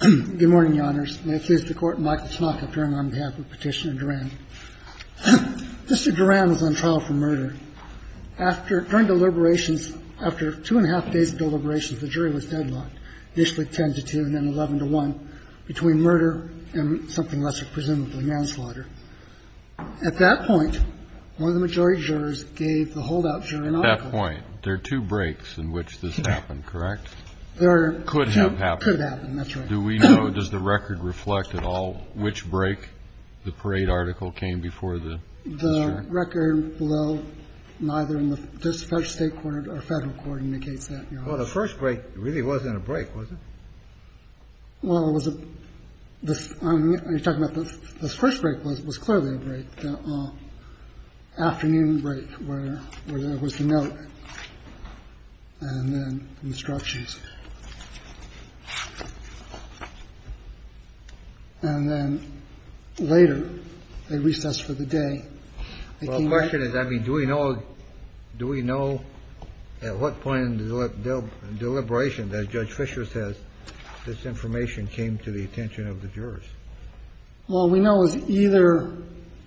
Good morning, Your Honors. May it please the Court, Michael Snodgatt Duran on behalf of Petitioner Duran. Mr. Duran was on trial for murder. During deliberations, after two and a half days of deliberations, the jury was deadlocked, initially 10 to 2 and then 11 to 1, between murder and something less than presumably manslaughter. At that point, one of the majority jurors gave the holdout jury an article. At that point, there are two breaks in which this happened, correct? Could have happened. Could have happened, that's right. Do we know, does the record reflect at all which break the parade article came before the jury? The record below neither in the state court or federal court indicates that, Your Honors. Well, the first break really wasn't a break, was it? Well, it was a – I'm talking about the first break was clearly a break, the afternoon break where there was a note and then instructions. And then later, a recess for the day. Well, the question is, I mean, do we know, do we know at what point in the deliberation that Judge Fischer says this information came to the attention of the jurors? Well, we know it was either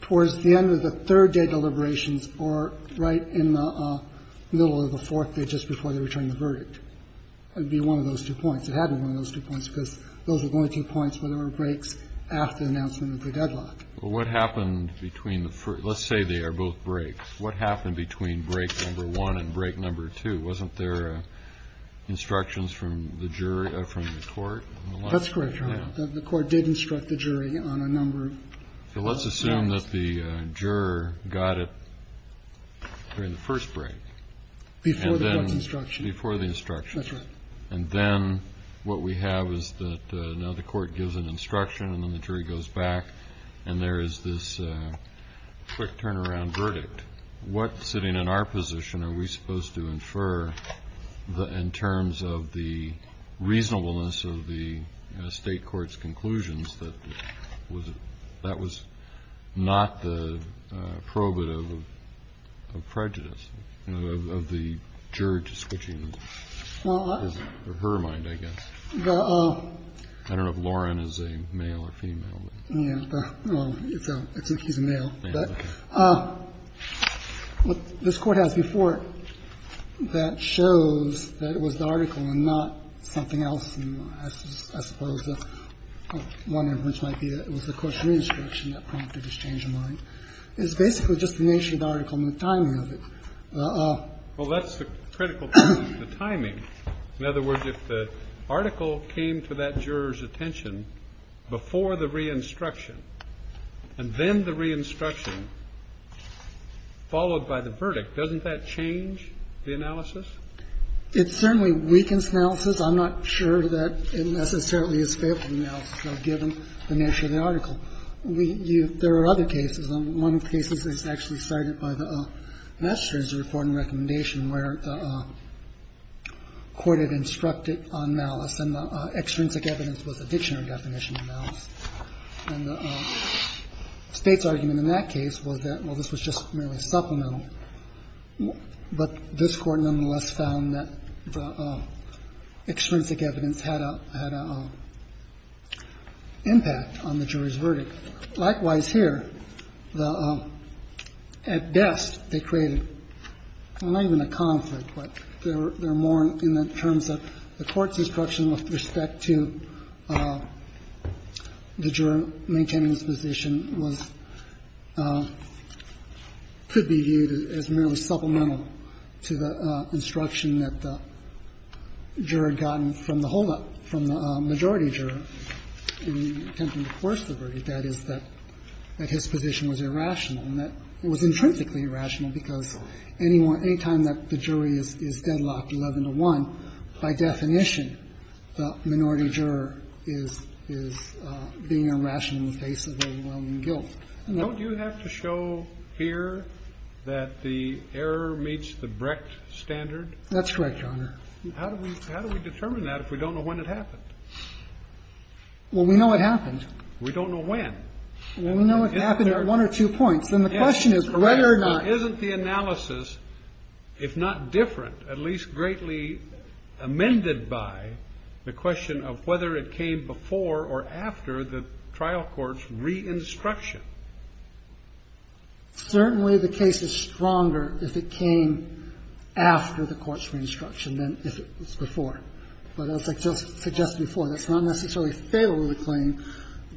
towards the end of the third day deliberations or right in the middle of the fourth day, just before they returned the verdict. It would be one of those two points. It had to be one of those two points because those were the only two points where there were breaks after the announcement of the deadlock. Well, what happened between the first – let's say they are both breaks. What happened between break number one and break number two? Wasn't there instructions from the jury, from the court? That's correct, Your Honor. The court did instruct the jury on a number of – So let's assume that the juror got it during the first break. Before the first instruction. Before the instruction. That's right. And then what we have is that now the court gives an instruction and then the jury goes back and there is this quick turnaround verdict. What, sitting in our position, are we supposed to infer in terms of the reasonableness of the State court's conclusions that that was not the probative of prejudice, of the juror switching his or her mind, I guess? I don't know if Lauren is a male or female. Yeah. Well, it's a – he's a male. But what this Court has before it that shows that it was the article and not something else, I suppose one inference might be that it was the court's re-instruction that prompted his change of mind. It's basically just the nature of the article and the timing of it. Well, that's the critical thing, the timing. In other words, if the article came to that juror's attention before the re-instruction and then the re-instruction followed by the verdict, doesn't that change the analysis? It certainly weakens analysis. I'm not sure that it necessarily is favorable analysis, though, given the nature of the article. There are other cases. One case is actually cited by the Massachusetts Report and Recommendation where the court had instructed on malice and the extrinsic evidence was a dictionary definition of malice. And the State's argument in that case was that, well, this was just merely supplemental. But this Court nonetheless found that the extrinsic evidence had a impact on the juror's verdict. Likewise here, at best, they created not even a conflict, but there are more in the terms of the court's instruction with respect to the juror maintaining his position could be viewed as merely supplemental to the instruction that the juror had gotten from the holdup, from the majority juror in attempting to force the verdict. That is, that his position was irrational and that it was intrinsically irrational because any time that the jury is deadlocked 11 to 1, by definition, the minority juror is the one who is to blame. We're trying to make sure that the jury is not irrational in the face of overwhelming guilt. No. Kennedy. Don't you have to show here that the error meets the Brecht standard? That's correct, Your Honor. How do we determine that if we don't know when it happened? Well, we know it happened. We don't know when. Well, we know it happened at one or two points. Then the question is whether or not the analysis, if not different, at least greatly amended by the question of whether it came before or after the trial court's re-instruction. Certainly, the case is stronger if it came after the court's re-instruction than if it was before. But as I just suggested before, that's not necessarily failure to claim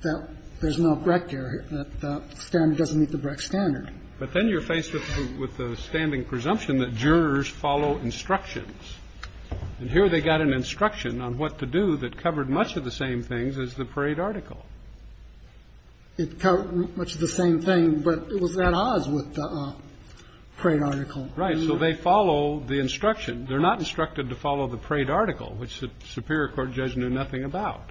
that there's no Brecht error, that the standard doesn't meet the Brecht standard. But then you're faced with the standing presumption that jurors follow instructions. And here they got an instruction on what to do that covered much of the same things as the parade article. It covered much of the same thing, but it was at odds with the parade article. Right. So they follow the instruction. They're not instructed to follow the parade article, which the superior court judge knew nothing about.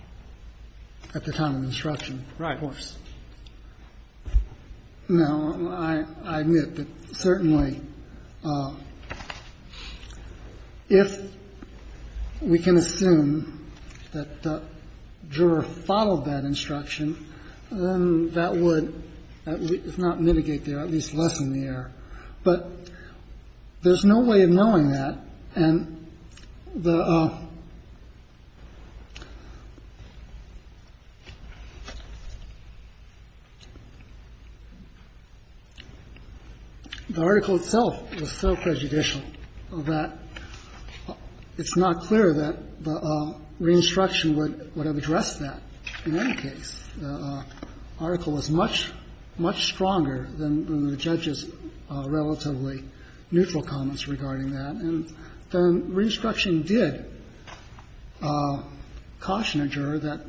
At the time of instruction, of course. Right. Now, I admit that certainly if we can assume that the juror followed that instruction, then that would, if not mitigate the error, at least lessen the error. But there's no way of knowing that. And the article itself was so prejudicial that it's not clear that the re-instruction would have addressed that in any case. The article was much, much stronger than the judge's relatively neutral comments regarding that. And the re-instruction did caution a juror that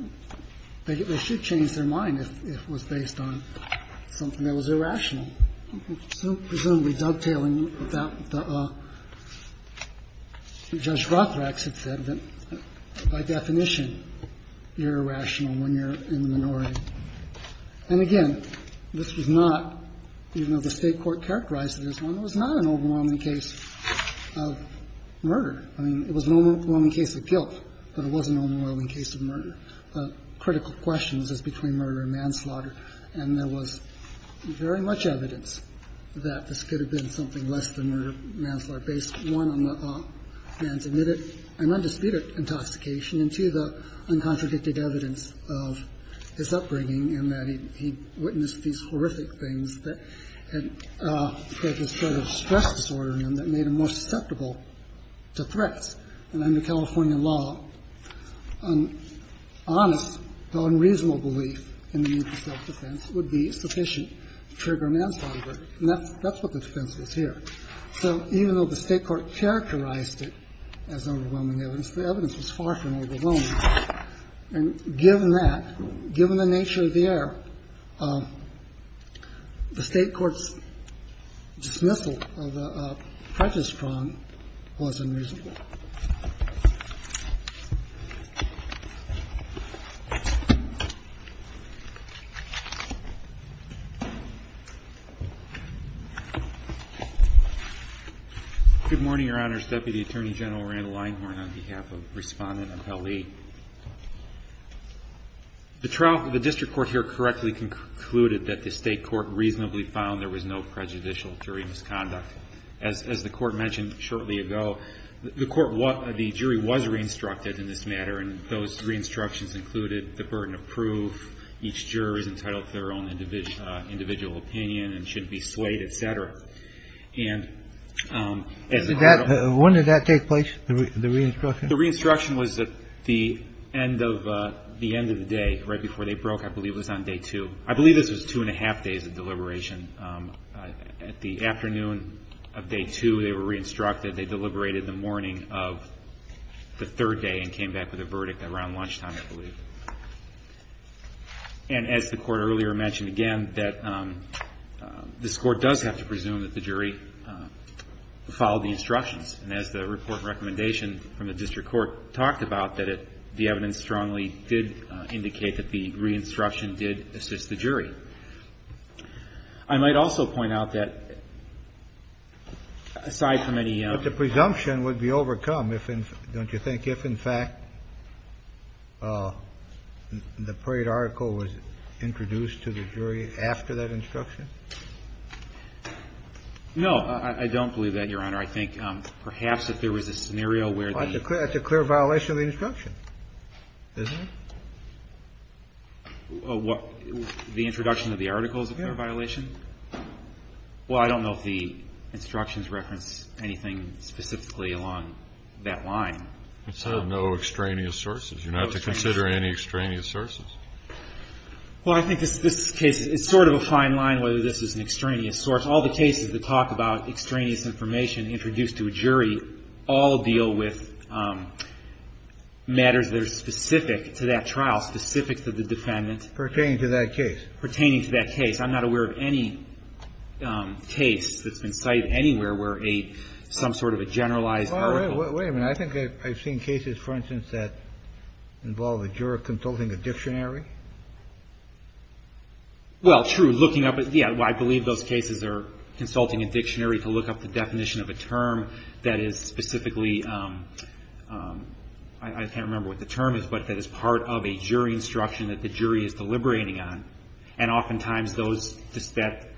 they should change their mind if it was based on something that was irrational. So presumably dovetailing with that, Judge Rothrax had said that by definition you're irrational when you're in the minority. And again, this was not, even though the State court characterized it as one, it was not an overwhelming case of murder. I mean, it was an overwhelming case of guilt, but it was an overwhelming case of murder. Critical questions is between murder and manslaughter. And there was very much evidence that this could have been something less than murder manslaughter based, one, on the man's admitted and undisputed intoxication, and two, the uncontradicted evidence of his upbringing in that he witnessed these horrific things that had, that had spread a stress disorder in him that made him more susceptible to threats. And under California law, an honest, though unreasonable belief in the need for self-defense would be sufficient to trigger manslaughter. And that's what the defense was here. So even though the State court characterized it as overwhelming evidence, the evidence was far from overwhelming. And given that, given the nature of the error, the State court's dismissal of Precious Prawn was unreasonable. Good morning, Your Honors. Deputy Attorney General Randall Einhorn on behalf of Respondent Appellee. The trial, the district court here correctly concluded that the State court reasonably found there was no prejudicial jury misconduct. As the court mentioned shortly ago, the court, the jury was re-instructed in this matter, and those re-instructions included the burden of proof. Each juror is entitled to their own individual opinion and shouldn't be swayed, et cetera. And as a matter of fact the one that that take place, the re-instruction? The re-instruction was at the end of, the end of the day, right before they broke, I believe it was on day two. I believe this was two and a half days of deliberation. At the afternoon of day two, they were re-instructed. They deliberated the morning of the third day and came back with a verdict around lunchtime, I believe. And as the court earlier mentioned again, that this court does have to presume that the jury followed the instructions. And as the report recommendation from the district court talked about, that it, the evidence strongly did indicate that the re-instruction did assist the jury. I might also point out that, aside from any. But the presumption would be overcome, don't you think, if in fact the parade article was introduced to the jury after that instruction? No, I don't believe that, Your Honor. I think perhaps if there was a scenario where the. That's a clear violation of the instruction, isn't it? The introduction of the article is a clear violation? Well, I don't know if the instructions reference anything specifically along that line. It said no extraneous sources. You're not to consider any extraneous sources. Well, I think this case, it's sort of a fine line whether this is an extraneous source. All the cases that talk about extraneous information introduced to a jury all deal with matters that are specific to that trial, specific to the defendant. Pertaining to that case. Pertaining to that case. I'm not aware of any case that's been cited anywhere where a, some sort of a generalized article. Well, wait a minute. I think I've seen cases, for instance, that involve a juror consulting a dictionary. Well, true. Looking up, yeah, I believe those cases are consulting a dictionary to look up the definition of a term that is specifically. I can't remember what the term is, but that is part of a jury instruction that the jury is deliberating on. And oftentimes those, that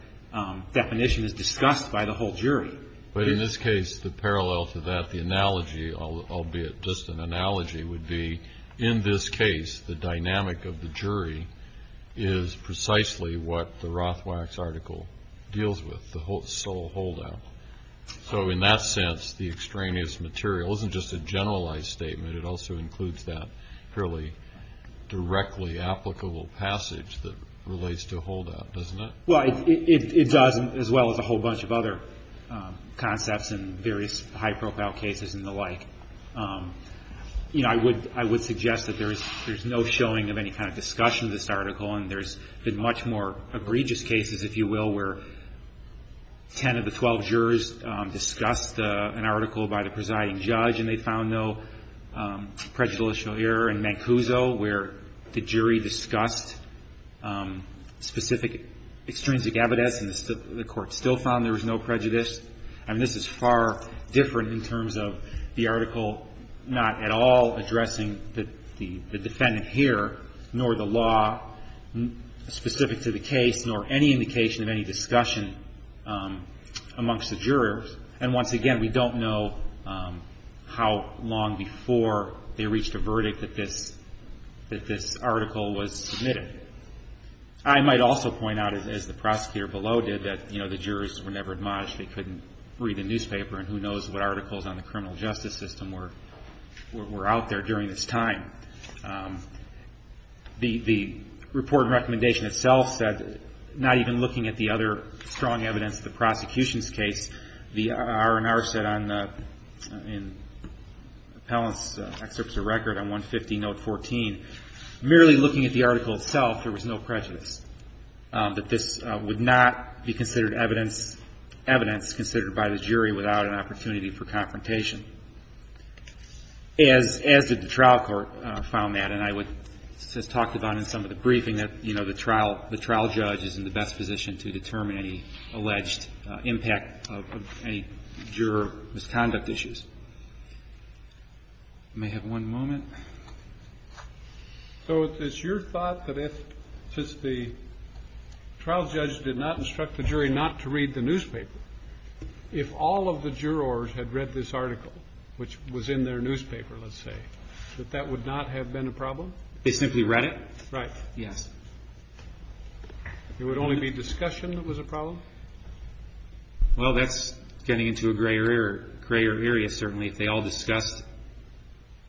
definition is discussed by the whole jury. But in this case, the parallel to that, the analogy, albeit just an analogy, would be in this case, the dynamic of the jury is precisely what the Rothwax article deals with. The sole holdout. So in that sense, the extraneous material isn't just a generalized statement. It also includes that fairly directly applicable passage that relates to holdout, doesn't it? Well, it does, as well as a whole bunch of other concepts and various high-profile cases and the like. You know, I would suggest that there's no showing of any kind of discussion of this article. And there's been much more egregious cases, if you will, where 10 of the 12 jurors discussed an article by the presiding judge and they found no prejudicial error. In Mancuso, where the jury discussed specific extrinsic evidence and the court still found there was no prejudice. I mean, this is far different in terms of the article not at all addressing the defendant here, nor the law specific to the case, nor any indication of any discussion amongst the jurors. And once again, we don't know how long before they reached a verdict that this article was submitted. I might also point out, as the prosecutor below did, that the jurors were never admonished. They couldn't read the newspaper, and who knows what articles on the criminal justice system were out there during this time. The report and recommendation itself said, not even looking at the other strong evidence, the prosecution's case, the R&R said in Appellant's excerpts of record on 150 note 14, merely looking at the article itself, there was no prejudice. That this would not be considered evidence considered by the jury without an opportunity for confrontation. As did the trial court found that, and I would talk about it in some of the briefing, that the trial judge is in the best position to determine any alleged impact of any juror misconduct issues. May I have one moment? So it's your thought that if the trial judge did not instruct the jury not to read the newspaper, if all of the jurors had read this article, which was in their newspaper, let's say, that that would not have been a problem? They simply read it? Yes. There would only be discussion that was a problem? Well, that's getting into a grayer area, certainly. If they all discussed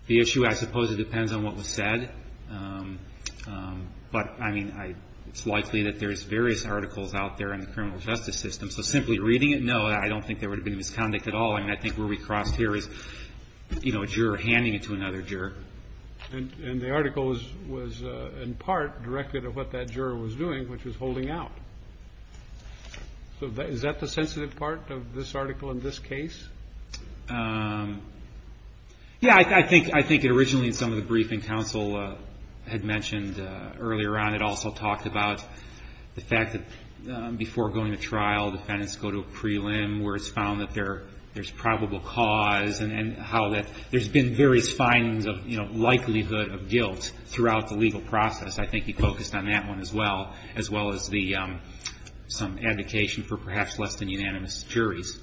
the issue, I suppose it depends on what was said. But, I mean, it's likely that there's various articles out there in the criminal justice system. So simply reading it, no, I don't think there would have been misconduct at all. I mean, I think where we crossed here is, you know, a juror handing it to another juror. And the article was, in part, directed at what that juror was doing, which was holding out. So is that the sensitive part of this article in this case? Yeah, I think it originally, in some of the briefing, counsel had mentioned earlier on, it also talked about the fact that before going to trial, defendants go to a prelim where it's found that there's probable cause, and how that there's been various findings of likelihood of guilt throughout the legal process. I think he focused on that one as well, as well as some advocation for perhaps less than unanimous juries.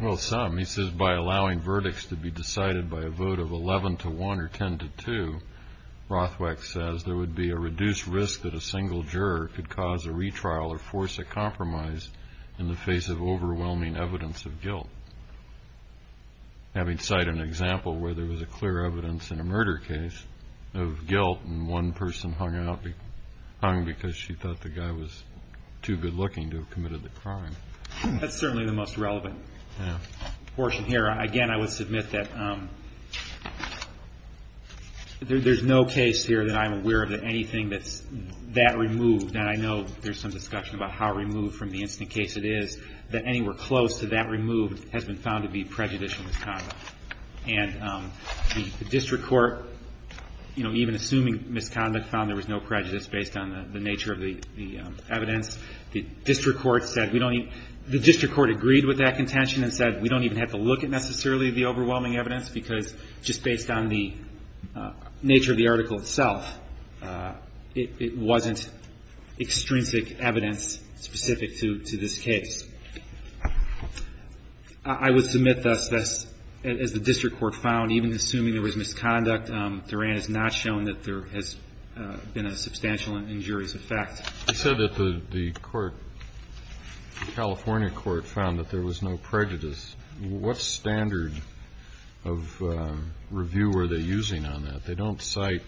Well, some. He says, by allowing verdicts to be decided by a vote of 11 to 1 or 10 to 2, Rothweck says there would be a reduced risk that a single juror could cause a retrial or force a compromise in the face of overwhelming evidence of guilt. Having cited an example where there was a clear evidence in a murder case of guilt, and one person hung because she thought the guy was too good-looking to have committed the crime. That's certainly the most relevant portion here. Again, I would submit that there's no case here that I'm aware of that anything that's that removed, and I know there's some discussion about how removed from the instant case it is, that anywhere close to that removed has been found to be prejudicial misconduct. And the district court, even assuming misconduct, found there was no prejudice based on the nature of the evidence. The district court agreed with that contention and said we don't even have to look at necessarily the overwhelming evidence because just based on the nature of the article itself, it wasn't extrinsic evidence specific to this case. I would submit thus, as the district court found, even assuming there was misconduct, Duran has not shown that there has been a substantial injurious effect. I said that the court, the California court, found that there was no prejudice. What standard of review were they using on that? They don't cite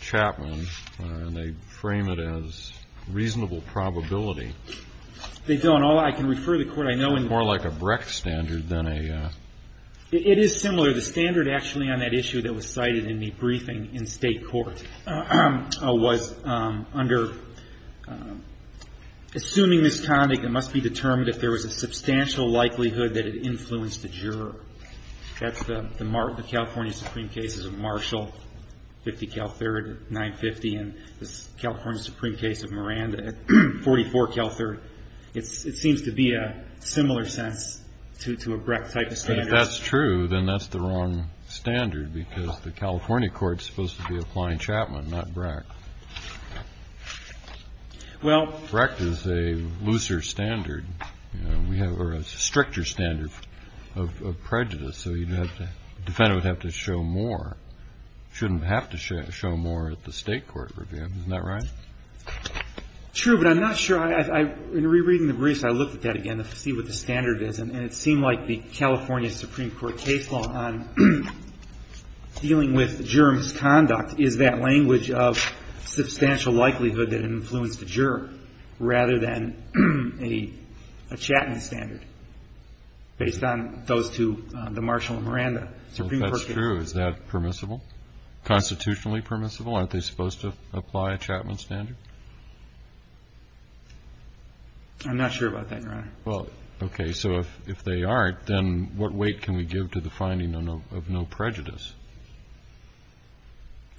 Chapman, and they frame it as reasonable probability. They don't. All I can refer to the court, I know in the ---- More like a Brecht standard than a ---- It is similar. So the standard actually on that issue that was cited in the briefing in State court was under assuming misconduct, it must be determined if there was a substantial likelihood that it influenced the juror. That's the California Supreme cases of Marshall, 50 Cal 3rd, 950, and the California Supreme case of Miranda at 44 Cal 3rd. It seems to be a similar sense to a Brecht type of standard. If that's true, then that's the wrong standard because the California court is supposed to be applying Chapman, not Brecht. Brecht is a looser standard, or a stricter standard of prejudice. So the defendant would have to show more, shouldn't have to show more at the State court review. Isn't that right? True, but I'm not sure. In rereading the briefs, I looked at that again to see what the standard is, and it was the California Supreme Court case law on dealing with juror misconduct is that language of substantial likelihood that it influenced the juror rather than a Chapman standard based on those two, the Marshall and Miranda. So if that's true, is that permissible, constitutionally permissible? Aren't they supposed to apply a Chapman standard? I'm not sure about that, Your Honor. Well, okay. So if they aren't, then what weight can we give to the finding of no prejudice?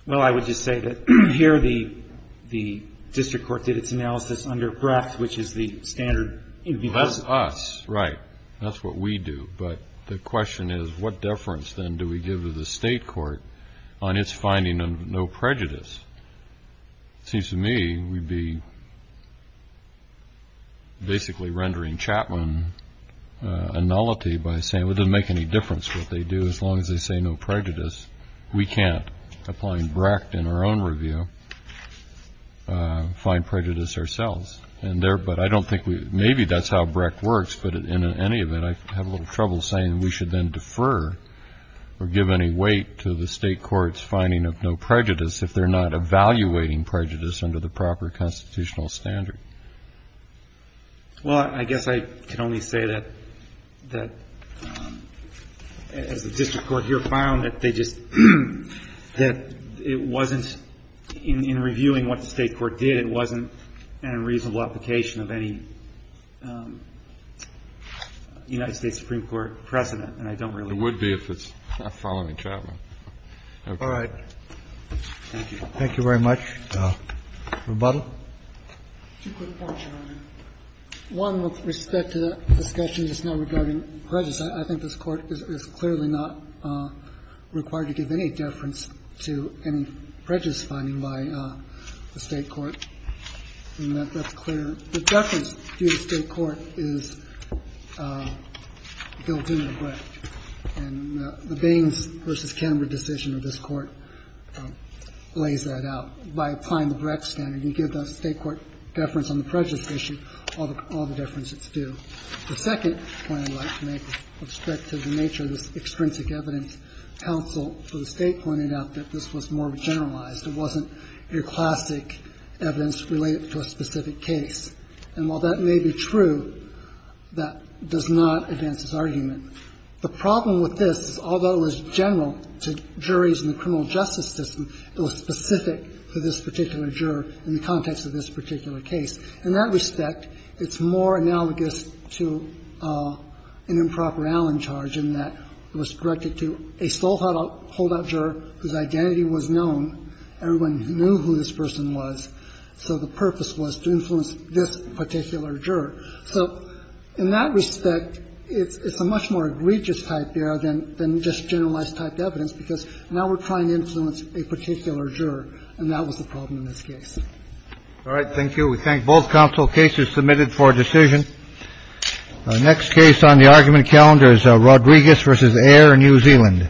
Well, I would just say that here the district court did its analysis under Brecht, which is the standard. That's us. Right. That's what we do. But the question is what deference, then, do we give to the State court on its finding of no prejudice? It seems to me we'd be basically rendering Chapman a nullity by saying it doesn't make any difference what they do as long as they say no prejudice. We can't, applying Brecht in our own review, find prejudice ourselves. But I don't think we – maybe that's how Brecht works, but in any event, I have a little trouble saying we should then defer or give any weight to the State court's finding of no prejudice if they're not evaluating prejudice under the proper constitutional standard. Well, I guess I can only say that as the district court here found that they just – that it wasn't – in reviewing what the State court did, it wasn't a reasonable application of any United States Supreme Court precedent. And I don't really – It would be if it's following Chapman. All right. Thank you. Thank you very much. Rebuttal. Two quick points, Your Honor. One with respect to the discussion just now regarding prejudice. I think this Court is clearly not required to give any deference to any prejudice finding by the State court. And that's clear. The deference to the State court is built into Brecht. And the Baines v. Canberra decision of this Court lays that out. By applying the Brecht standard, you give the State court deference on the prejudice issue, all the deference that's due. The second point I'd like to make with respect to the nature of this extrinsic evidence counsel for the State pointed out that this was more generalized. It wasn't your classic evidence related to a specific case. And while that may be true, that does not advance this argument. The problem with this is, although it was general to juries in the criminal justice system, it was specific to this particular juror in the context of this particular case. In that respect, it's more analogous to an improper Allen charge in that it was directed to a sole holdout juror whose identity was known. Everyone knew who this person was. So the purpose was to influence this particular juror. So in that respect, it's a much more egregious type there than just generalized type evidence, because now we're trying to influence a particular juror. And that was the problem in this case. All right. Thank you. We thank both counsel. Case is submitted for decision. Our next case on the argument calendar is Rodriguez v. Ayer, New Zealand. Thank you.